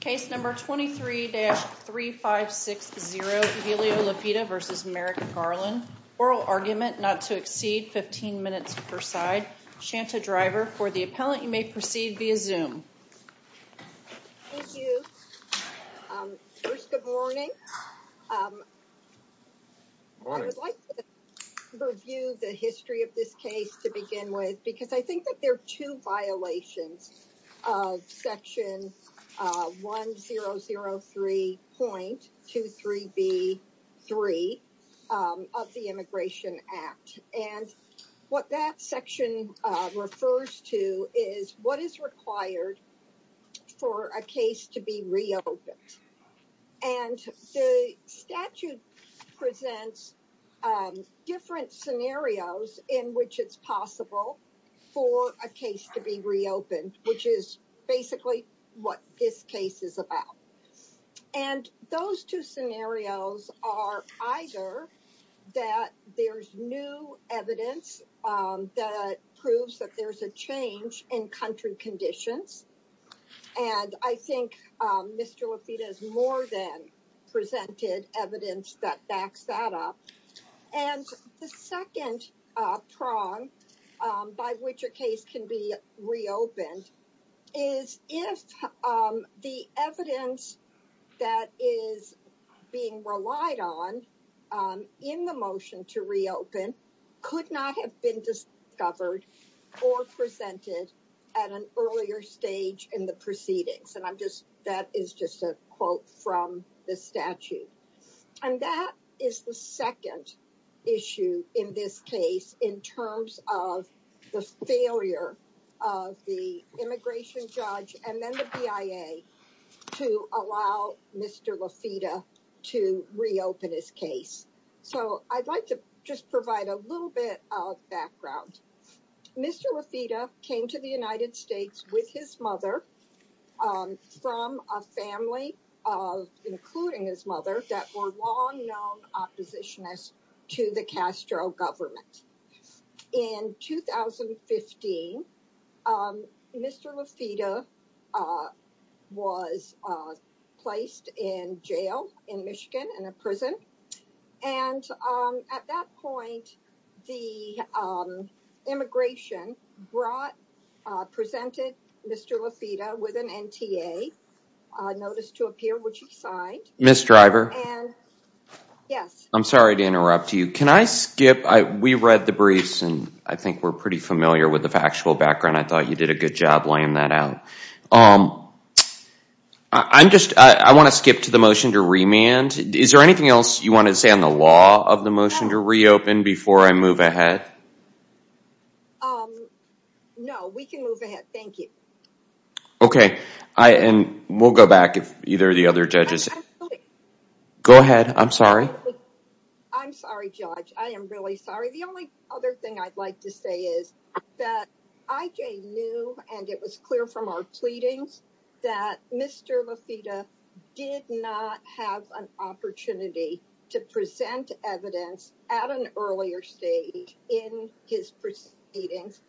Case number 23-3560, Evelio Lafita v. Merrick Garland. Oral argument not to exceed 15 minutes per side. Shanta Driver for the appellant. You may proceed via Zoom. Thank you. First, good morning. I would like to review the history of this case to begin with because I think that there are two violations of section 1003.23B.3 of the Immigration Act. And what that section refers to is what is required for a case to be reopened. And the statute presents different scenarios in which it's possible for a case to be reopened, which is basically what this case is about. And those two scenarios are either that there's new evidence that proves that there's a change in country conditions. And I think Mr. Lafita has more than presented evidence that backs that up. And the second prong by which a case can be reopened is if the evidence that is being relied on in the motion to reopen could not have been discovered or presented at an earlier stage in the proceedings. And I'm just, that is just a quote from the statute. And that is the second issue in this case in terms of the failure of the immigration judge and then the BIA to allow Mr. Lafita to reopen his case. So I'd like to just provide a little bit of background. Mr. Lafita came to the United States with his mother from a family of, including his mother, that were long known oppositionists to the Castro government. In 2015, Mr. Lafita was placed in jail in Michigan, in a prison. And at that point, the immigration brought, presented Mr. Lafita with an NTA notice to appear, which he signed. Ms. Driver. Yes. I'm sorry to interrupt you. Can I skip, we read the briefs and I think we're pretty familiar with the factual background. I thought you did a good job laying that out. I'm just, I want to skip to the motion to remand. Is there anything else you want to say on the law of the motion to reopen before I move ahead? No, we can move ahead. Thank you. Okay. I, and we'll go back if either of the other judges. Go ahead. I'm sorry. I'm sorry, judge. I am really sorry. The only other thing I'd like to say is that IJ knew, and it was clear from our pleadings that Mr. Lafita did not have an opportunity to present evidence at an earlier stage in his proceedings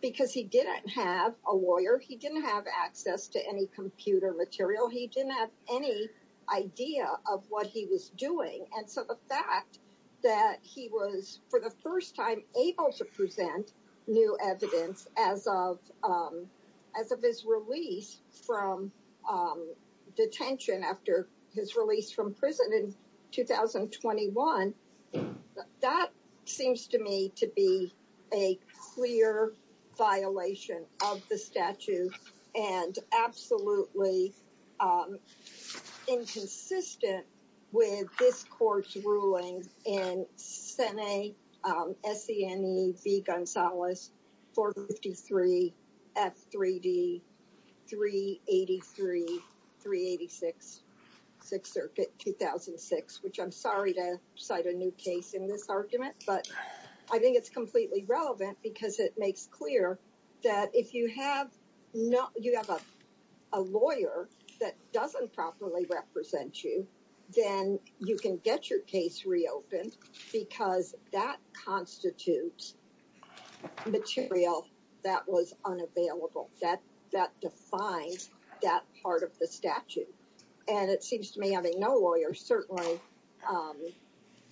because he didn't have a lawyer. He didn't have access to any computer material. He didn't have any idea of what he was doing. And so the fact that he was for the first time able to present new evidence as of, as of his release from detention after his release from prison in 2021, that seems to me to be a clear violation of the statute and absolutely inconsistent with this court's ruling in Sene, Sene v. Gonzalez 453 F3D 383 386 6th Circuit 2006, which I'm sorry to cite a new case in this argument, but I think it's completely relevant because it makes clear that if you have no, you have a lawyer that doesn't properly represent you, then you can get your case reopened because that constitutes material that was unavailable. That, that defines that part of the statute. And it seems to me having no lawyer certainly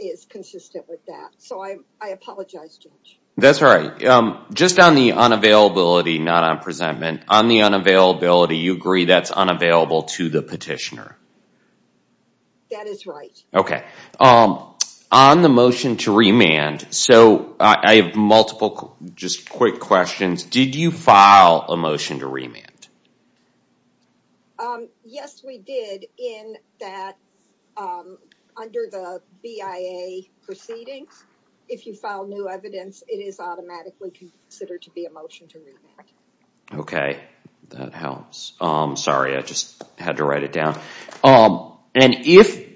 is consistent with that. So I, I apologize, judge. That's all right. Just on the unavailability, not on presentment, on the unavailability, you agree that's unavailable to the petitioner? That is right. Okay. On the motion to remand, so I have multiple just quick questions. Did you file a motion to remand? Yes, we did in that under the BIA proceedings, if you file new evidence, it is automatically considered to be a motion to remand. Okay, that helps. Sorry, I just had to write it down. And if,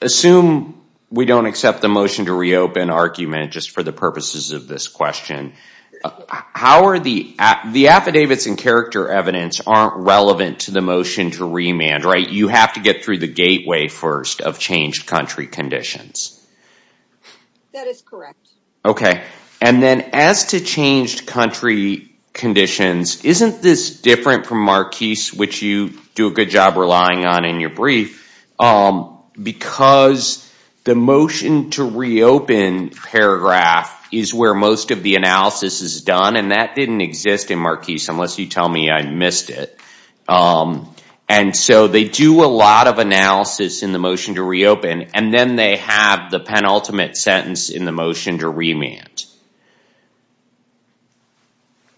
assume we don't accept the motion to reopen argument just for the purposes of this question, how are the affidavits and character evidence aren't relevant to the motion to remand, right? You have to get through the gateway first of changed country conditions. That is correct. Okay. And then as to changed country conditions, isn't this different from Marquise, which you do a good job relying on in your brief, because the motion to reopen paragraph is where most of the analysis is done. And that didn't exist in Marquise, unless you tell me I missed it. And so they do a lot of analysis in the motion to reopen, and then they have the penultimate sentence in the motion to remand.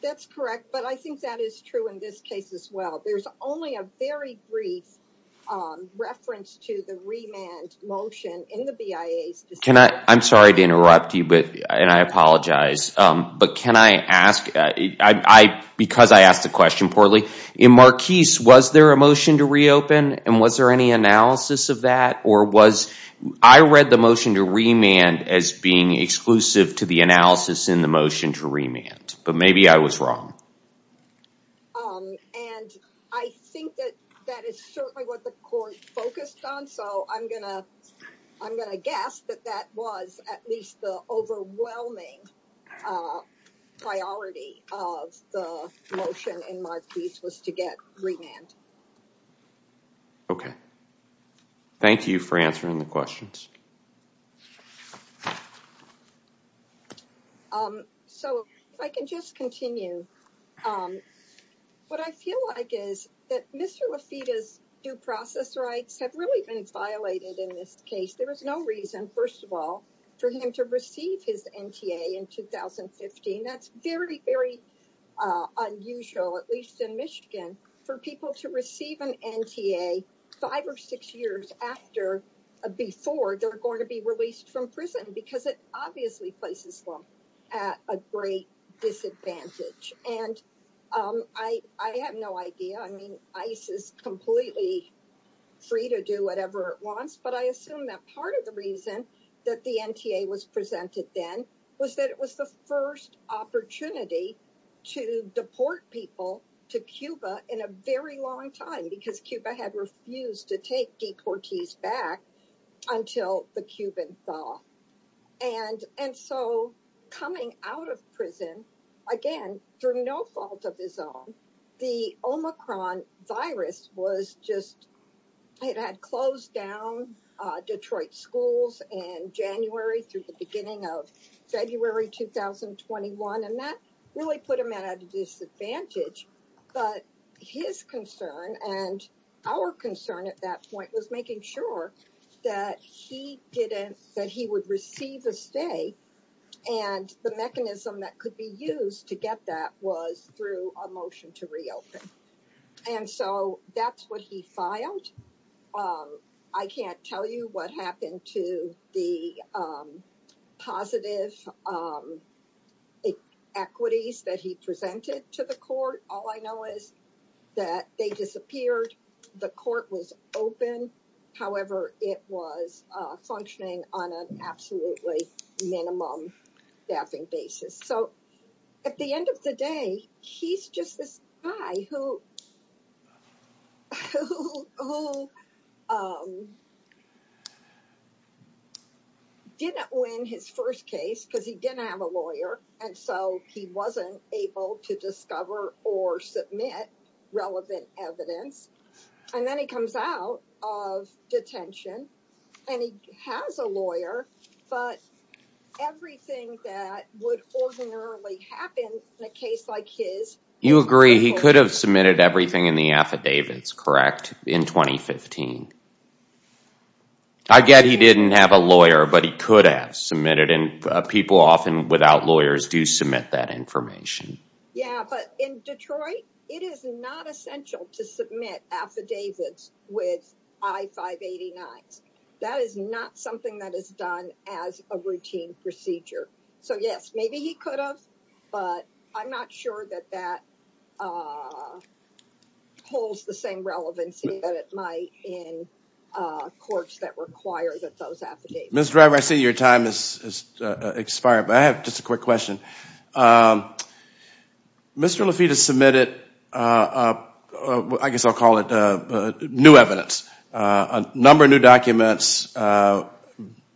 That's correct, but I think that is true in this case as well. There's only a very brief reference to the remand motion in the BIA's decision. I'm sorry to interrupt you, and I apologize. But can I ask, because I asked the question poorly, in Marquise, was there a motion to reopen? And was there any analysis of that? Or was, I read the motion to remand as being exclusive to the analysis in the motion to remand, but maybe I was wrong. And I think that that is certainly what the court focused on. So I'm gonna guess that that was at least the overwhelming priority of the motion in Marquise was to get the motion to remand. Okay. Thank you for answering the questions. So if I can just continue. What I feel like is that Mr. Lafitte's due process rights have really been violated in this case. There was no reason, first of all, for him to receive his NTA in 2015. That's very, very unusual, at least in Michigan, for people to receive an NTA five or six years after, before they're going to be released from prison, because it obviously places them at a great disadvantage. And I have no idea. I mean, ICE is completely free to do whatever it wants. But I assume that part of the reason that the NTA was presented then was that it was the first opportunity to deport people to Cuba in a very long time, because Cuba had refused to take deportees back until the Cuban thaw. And so coming out of prison, again, through no fault of his own, the Omicron virus was just, it had closed down Detroit schools in January through the beginning of February 2021. And that really put him at a disadvantage. But his concern and our concern at that point was making sure that he didn't, that he would receive a stay. And the mechanism that could be used to get that was through a motion to reopen. And so that's what he filed. I can't tell you what happened to the positive equities that he presented to the court. All I know is that they disappeared. The court was open. However, it was functioning on an absolutely minimum staffing basis. So at the end of the day, he's just this guy who, who didn't win his first case because he didn't have a lawyer. And so he wasn't able to discover or submit relevant evidence. And then he comes out of detention and he has a lawyer, but everything that would ordinarily happen in a case like his- Everything in the affidavits, correct? In 2015. I get he didn't have a lawyer, but he could have submitted. And people often without lawyers do submit that information. Yeah, but in Detroit, it is not essential to submit affidavits with I-589s. That is not something that is done as a routine procedure. So yes, maybe he could have, but I'm not sure that that holds the same relevancy that it might in courts that require that those affidavits. Ms. Driver, I see your time has expired, but I have just a quick question. Mr. Lafitte has submitted, I guess I'll call it new evidence, a number of new documents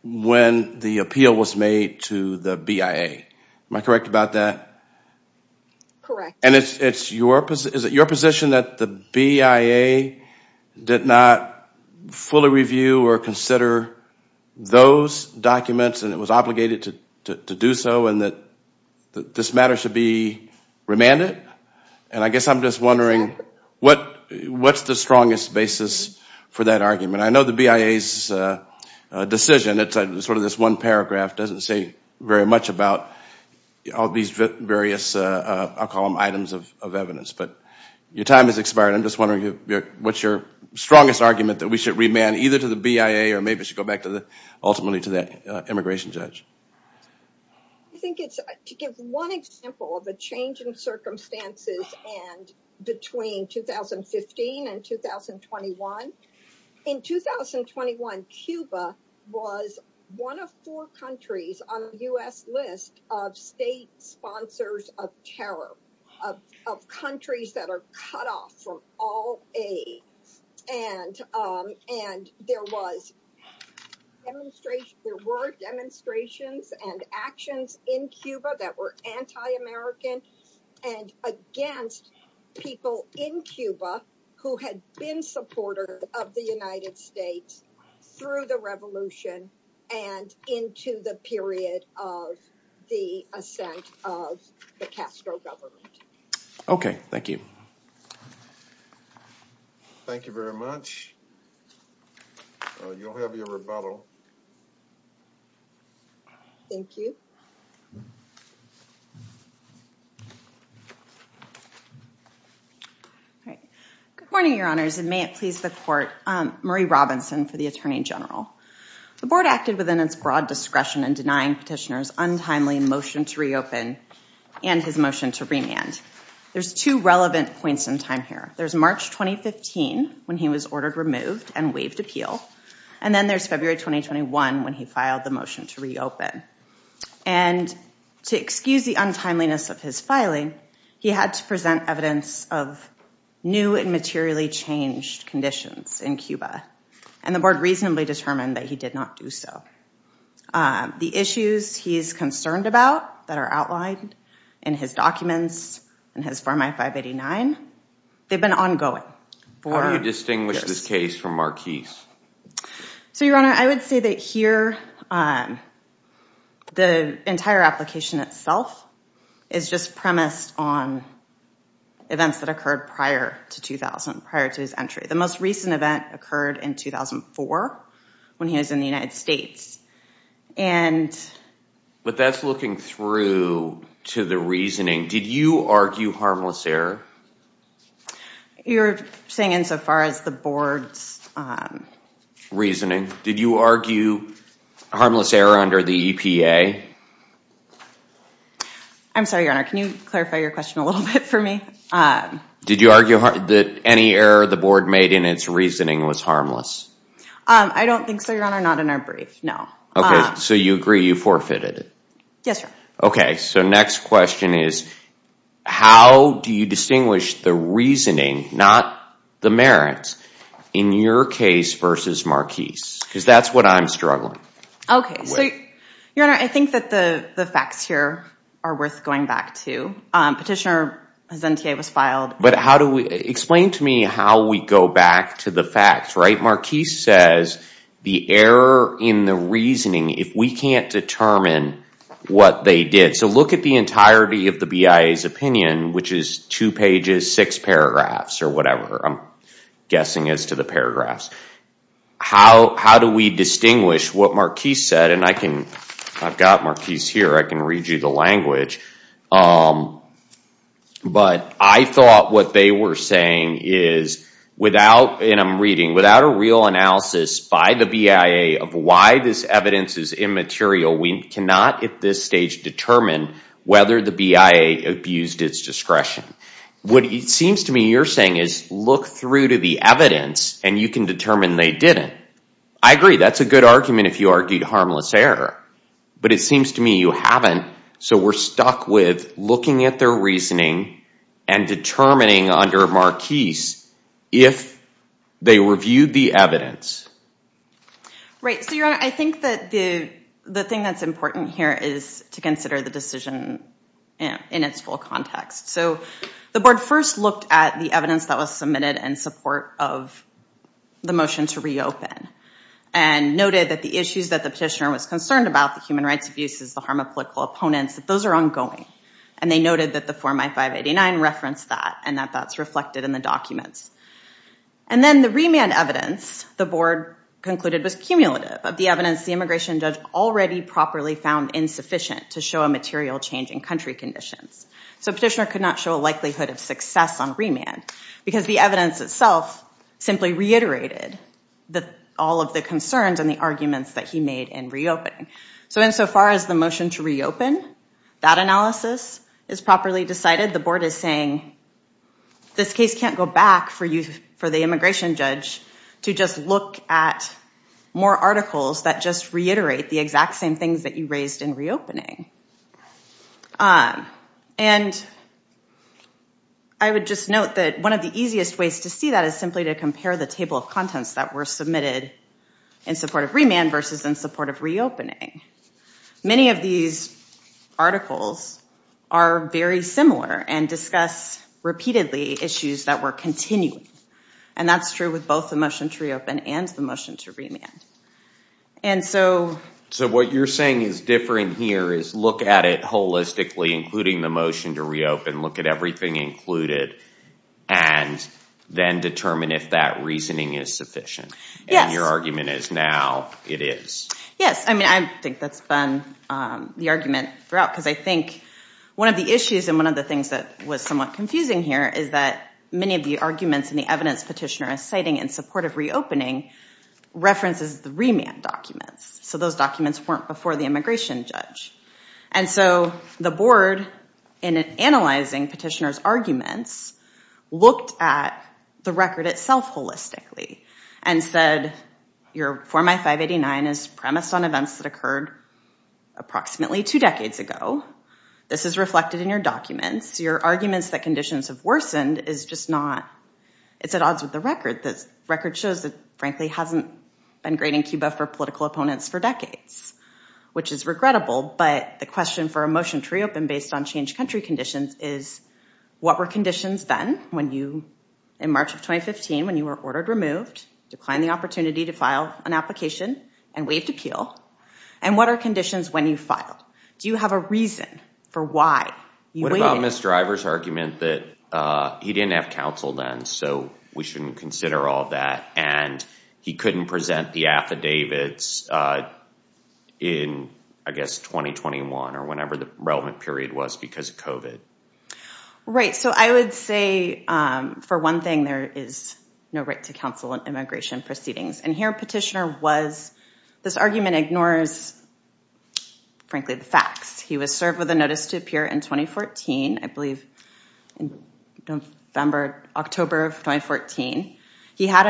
when the appeal was made to the BIA. Am I correct about that? Correct. And is it your position that the BIA did not fully review or consider those documents and it was obligated to do so and that this matter should be remanded? And I guess I'm just wondering what's the strongest basis for that argument? I know the BIA's decision, it's sort of this one paragraph, doesn't say very much about all these various, I'll call them items of evidence. But your time has expired. I'm just wondering what's your strongest argument that we should remand either to the BIA or maybe should go back ultimately to the immigration judge? I think it's to give one example of a change in circumstances between 2015 and 2021. In 2021, Cuba was one of four countries on the U.S. list of state sponsors of terror, of countries that are cut off from all aid. And there were demonstrations and actions in Cuba that were anti-American and against people in Cuba who had been supporters of the United States through the revolution and into the period of the ascent of the Castro government. Okay, thank you. Thank you very much. You'll have your rebuttal. Thank you. All right. Good morning, your honors, and may it please the court. Marie Robinson for the attorney general. The board acted within its broad discretion in denying petitioner's untimely motion to reopen and his motion to remand. There's two relevant points in time here. There's March 2015 when he was ordered removed and waived appeal. And then there's February 2021 when he filed the motion to reopen. And to excuse the untimeliness of his filing, he had to present evidence of new and materially changed conditions in Cuba. And the board reasonably determined that he did not do so. The issues he's concerned about that are outlined in his documents, in his Farm Act 589, they've been ongoing. How do you distinguish this case from Marquis? So your honor, I would say that here the entire application itself is just premised on events that occurred prior to 2000, prior to his entry. The most recent event occurred in 2004 when he was in the United States. But that's looking through to the reasoning. Did you argue harmless error? You're saying insofar as the board's reasoning. Did you argue harmless error under the EPA? I'm sorry, your honor. Can you clarify your question a little bit for me? Did you argue that any error the board made in its reasoning was harmless? I don't think so, your honor. Not in our brief. No. Okay. So you agree you forfeited it? Yes, your honor. Okay. So next question is, how do you distinguish the reasoning, not the merits, in your case versus Marquis? Because that's what I'm struggling with. Okay. So your honor, I think that the facts here are worth going back to. Petitioner But explain to me how we go back to the facts, right? Marquis says the error in the reasoning, if we can't determine what they did. So look at the entirety of the BIA's opinion, which is two pages, six paragraphs, or whatever I'm guessing is to the paragraphs. How do we distinguish what Marquis said? And I've got Marquis here. I can read you the language. But I thought what they were saying is without, and I'm reading, without a real analysis by the BIA of why this evidence is immaterial, we cannot at this stage determine whether the BIA abused its discretion. What it seems to me you're saying is look through to the evidence and you can determine they didn't. I agree. That's a good argument if you argued harmless error. But it looking at their reasoning and determining under Marquis if they reviewed the evidence. Right. So your honor, I think that the thing that's important here is to consider the decision in its full context. So the board first looked at the evidence that was submitted in support of the motion to reopen and noted that the issues that the petitioner was concerned about, the human rights abuses, the harm of political opponents, that those are ongoing. And they noted that the form I-589 referenced that and that that's reflected in the documents. And then the remand evidence the board concluded was cumulative of the evidence the immigration judge already properly found insufficient to show a material change in country conditions. So petitioner could not show a likelihood of success on remand because the evidence itself simply reiterated all of the concerns and the arguments that he made in reopening. So insofar as the motion to reopen, that analysis is properly decided. The board is saying this case can't go back for the immigration judge to just look at more articles that just reiterate the exact same things that you raised in reopening. And I would just note that one of the easiest ways to see that is simply to compare the table of contents that were submitted in support of remand versus in support of reopening. Many of these articles are very similar and discuss repeatedly issues that were continuing. And that's true with both the motion to reopen and the motion to remand. And so what you're saying is different here is look at it holistically, including the motion to reopen, look at everything included, and then determine if that reasoning is sufficient. And your argument is now it is. Yes. I mean, I think that's been the argument throughout because I think one of the issues and one of the things that was somewhat confusing here is that many of the arguments in the evidence petitioner is citing in support of reopening references the remand documents. So those documents weren't before the immigration judge. And so the board, in analyzing petitioner's arguments, looked at the record itself holistically and said your form I-589 is premised on events that occurred approximately two decades ago. This is reflected in your documents. Your arguments that conditions have worsened is just not it's at odds with the record. The record shows that, frankly, hasn't been great in Cuba for opponents for decades, which is regrettable. But the question for a motion to reopen based on changed country conditions is what were conditions then when you, in March of 2015, when you were ordered removed, declined the opportunity to file an application and waived appeal? And what are conditions when you file? Do you have a reason for why you waited? What about Mr. Ivor's argument that he didn't have counsel then, so we shouldn't consider all that, and he couldn't present the affidavits in, I guess, 2021 or whenever the relevant period was because of COVID? Right. So I would say, for one thing, there is no right to counsel in immigration proceedings. And here petitioner was, this argument ignores, frankly, the facts. He was served with a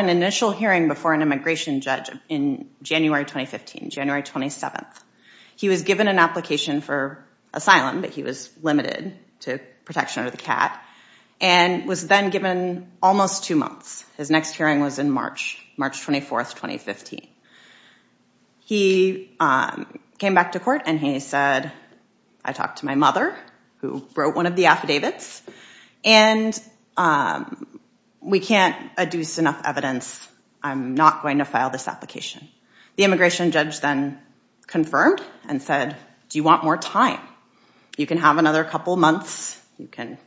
initial hearing before an immigration judge in January 2015, January 27. He was given an application for asylum, but he was limited to protection under the CAT, and was then given almost two months. His next hearing was in March, March 24, 2015. He came back to court, and he said, I talked to my mother, who wrote one of the affidavits, and we can't adduce enough evidence. I'm not going to file this application. The immigration judge then confirmed and said, do you want more time? You can have another couple months. You can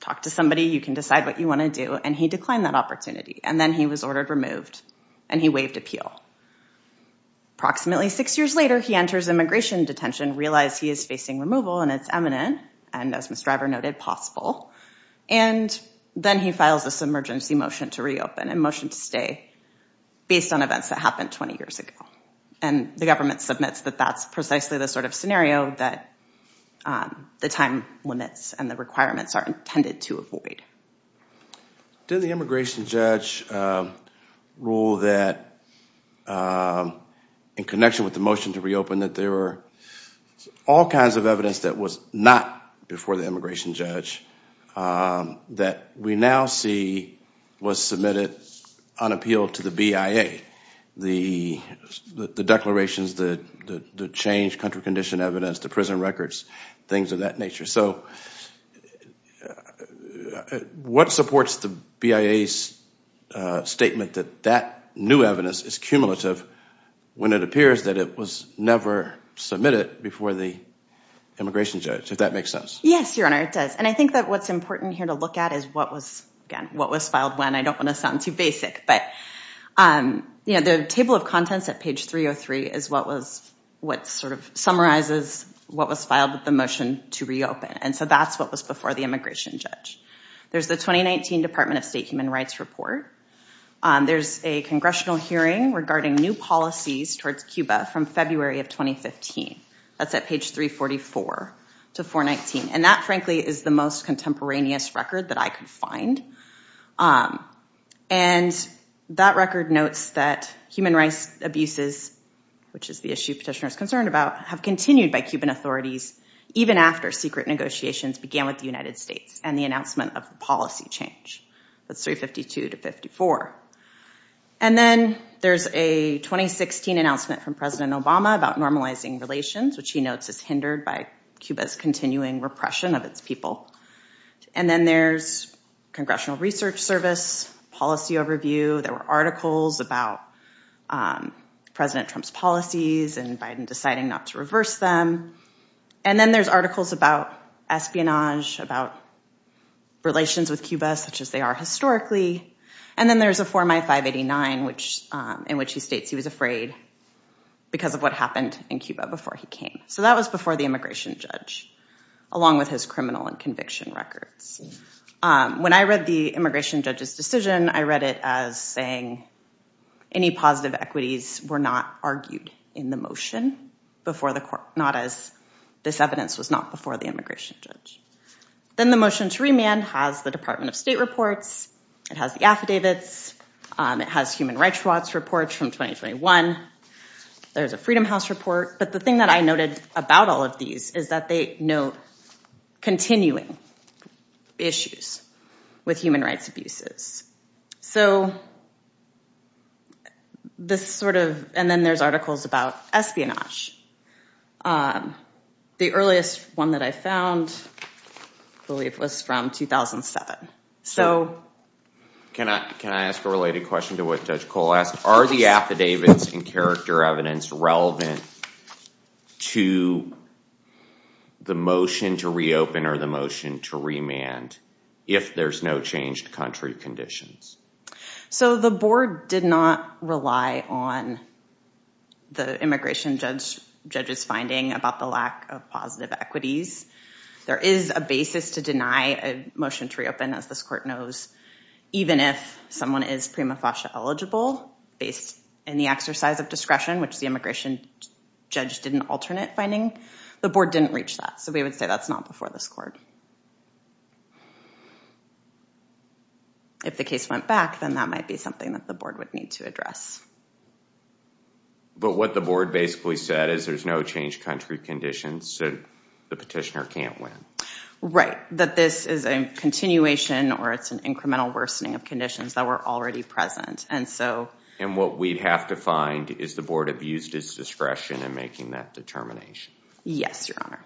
talk to somebody. You can decide what you want to do. And he declined that opportunity. And then he was ordered removed, and he waived appeal. Approximately six years later, he enters immigration detention, realized he is facing removal, and it's eminent, and as Ms. Driver noted, possible. And then he files this emergency motion to reopen and motion to stay based on events that happened 20 years ago. And the government submits that that's precisely the sort of scenario that the time limits and requirements are intended to avoid. Did the immigration judge rule that in connection with the motion to reopen that there were all kinds of evidence that was not before the immigration judge that we now see was submitted on appeal to the BIA, the declarations, the change, country condition evidence, the prison records, things of that nature. So what supports the BIA's statement that that new evidence is cumulative when it appears that it was never submitted before the immigration judge, if that makes sense? Yes, Your Honor, it does. And I think that what's important here to look at is what was, again, what was filed when. I don't want to sound too basic, but the table of contents at page 303 is what sort of summarizes what was filed with the motion to reopen. And so that's what was before the immigration judge. There's the 2019 Department of State Human Rights report. There's a congressional hearing regarding new policies towards Cuba from February of 2015. That's at page 344 to 419. And that, frankly, is the most contemporaneous record that I could find. And that record notes that abuses, which is the issue petitioners concerned about, have continued by Cuban authorities even after secret negotiations began with the United States and the announcement of policy change. That's 352 to 354. And then there's a 2016 announcement from President Obama about normalizing relations, which he notes is hindered by Cuba's continuing repression of its people. And then there's Congressional Research Service policy overview. There were articles about President Trump's policies and Biden deciding not to reverse them. And then there's articles about espionage, about relations with Cuba, such as they are historically. And then there's a Form I-589, in which he states he was afraid because of what happened in Cuba before he came. So that was before the immigration judge, along with his criminal and conviction records. When I read the immigration judge's decision, I read it as saying any positive equities were not argued in the motion before the court, not as this evidence was not before the immigration judge. Then the motion to remand has the Department of State reports. It has the affidavits. It has Human Rights Watch reports from 2021. There's a Freedom House report. But the thing that I noted about all of these is that they note continuing issues with human rights abuses. And then there's articles about espionage. The earliest one that I found, I believe, was from 2007. So can I ask a related question to what Judge Cole asked? Are the affidavits and character evidence relevant to the motion to reopen or the motion to remand if there's no changed country conditions? So the board did not rely on the immigration judge's finding about the lack of equities. There is a basis to deny a motion to reopen, as this court knows, even if someone is prima facie eligible based in the exercise of discretion, which the immigration judge did an alternate finding. The board didn't reach that. So we would say that's not before this court. If the case went back, then that might be something that the board would need to address. But what the board basically said is there's no changed country conditions, so the petitioner can't win. Right. That this is a continuation or it's an incremental worsening of conditions that were already present. And what we'd have to find is the board abused its discretion in making that determination. Yes, Your Honor.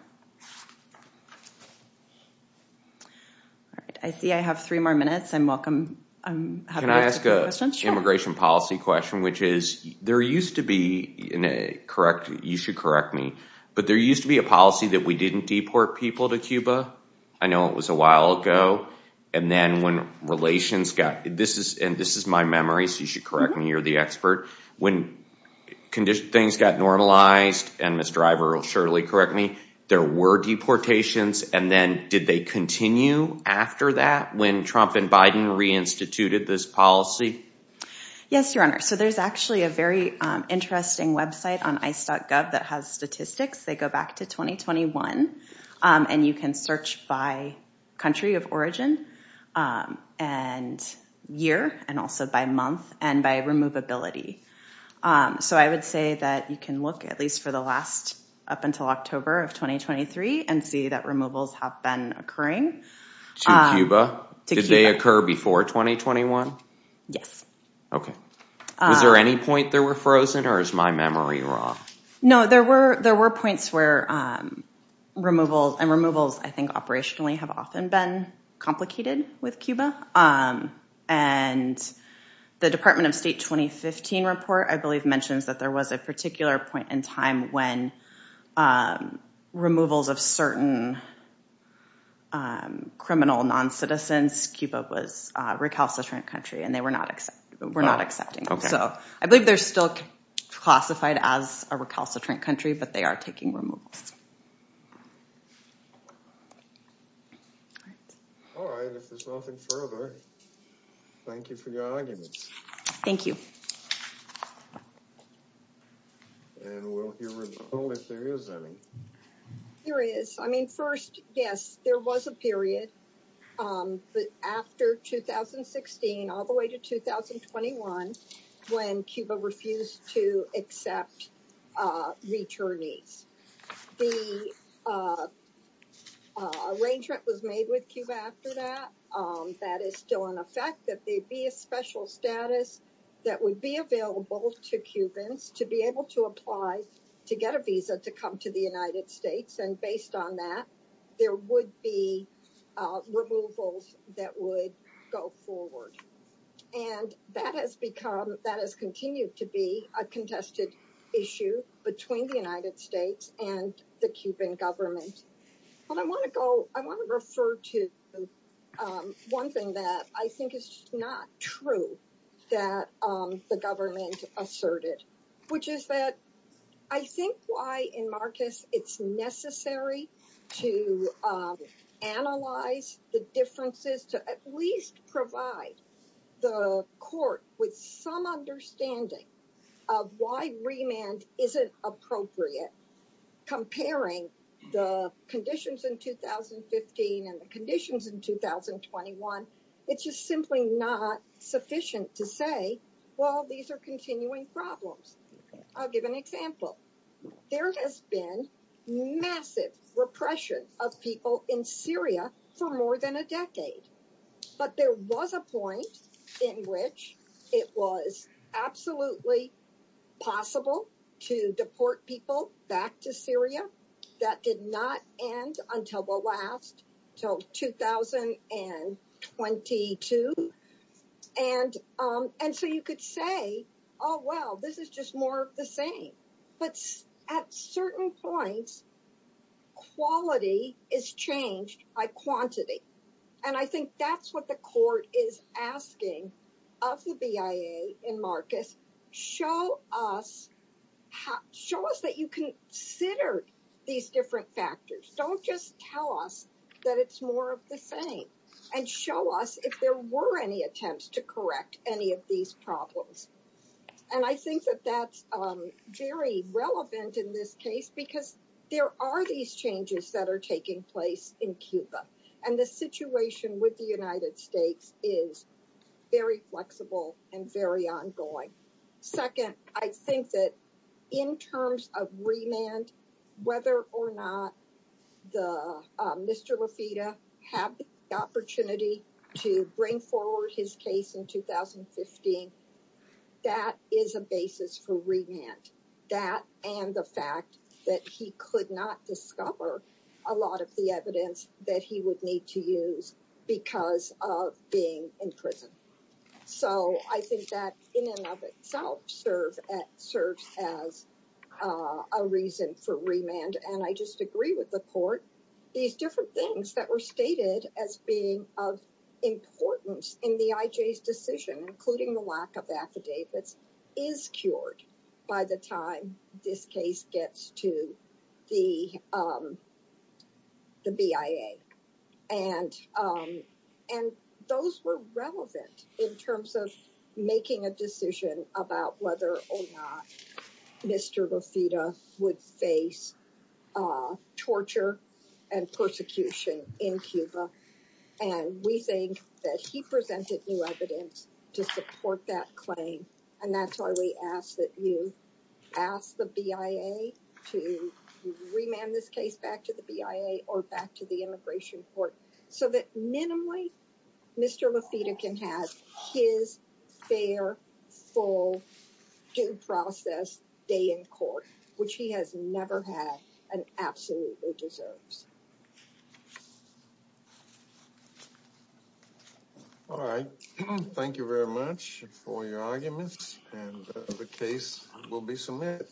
I see I have three more minutes. I'm welcome. Can I ask a immigration policy question, which is there used to be in a correct, you should correct me, but there used to be a policy that we didn't deport people to Cuba. I know it was a while ago. And then when relations got, this is and this is my memory, so you should correct me. You're the expert. When condition things got normalized, and Mr. Ivor will surely correct me, there were deportations. And then did they continue after that when Trump and Biden reinstituted this policy? Yes, Your Honor. So there's actually a very interesting website on ICE.gov that has statistics. They go back to 2021. And you can search by country of origin and year and also by month and by removability. So I would say that you can look at least for the last up until October of 2023 and see that removals have been occurring. To Cuba? Did they occur before 2021? Yes. Was there any point there were frozen or is my memory wrong? No, there were points where and removals, I think, operationally have often been complicated with Cuba. And the Department of State 2015 report, I believe, mentions that there was a particular point in time when removals of certain criminal non-citizens, Cuba was recalcitrant country and they were not accepting. So I believe they're still classified as a recalcitrant country, but they are taking removals. All right, if there's nothing further, thank you for your arguments. Thank you. And we'll hear from you if there is any. There is. I mean, first, yes, there was a period. But after 2016, all the way to 2021, when Cuba refused to accept returnees, the arrangement was made with Cuba after that. That is still in effect, that there'd be a special status that would be available to Cubans to be able to apply to get a visa to come to the United States. And based on that, there would be removals that would go forward. And that has become, that has continued to be a contested issue between the United States and the Cuban government. And I want to go, I want to refer to one thing that I think is not true that the government asserted, which is that I think why in Marcus, it's necessary to analyze the differences to at least provide the court with some understanding of why remand isn't appropriate, comparing the conditions in 2015 and the conditions in 2021. It's just simply not sufficient to say, well, these are continuing problems. I'll give an example. There has been massive repression of people in Syria for more than a decade. But there was a point in which it was absolutely possible to deport people back to Syria. That did not end until the last, until 2022. And so you could say, oh, well, this is just more of the same. But at certain points, quality is changed by quantity. And I think that's what the court is asking of the BIA in Marcus, show us that you consider these different factors. Don't just tell us that it's more of the same and show us if there were any attempts to correct any of these problems. And I think that that's very relevant in this case, because there are these changes that are taking place in Cuba. And the situation with the United States is very flexible and very ongoing. Second, I think that in terms of remand, whether or not Mr. Lafitte had the opportunity to bring forward his case in 2015, that is a basis for remand. That and the fact that he could not discover a lot of the evidence that he would need to use because of being in prison. So I think that in and of itself serves as a reason for remand. And I just agree with the court, these different things that were stated as being of importance in the IJ's decision, including the lack of affidavits, is cured by the time this case gets to the BIA. And those were relevant in terms of making a decision about whether or not Mr. Lafitte would face torture and persecution in Cuba. And we think that he presented new evidence to support that claim. And that's why we ask that you ask the BIA to remand this case back to the immigration court so that minimally Mr. Lafitte can have his fair, full due process day in court, which he has never had and absolutely deserves. All right. Thank you very much for your arguments and the case will be submitted.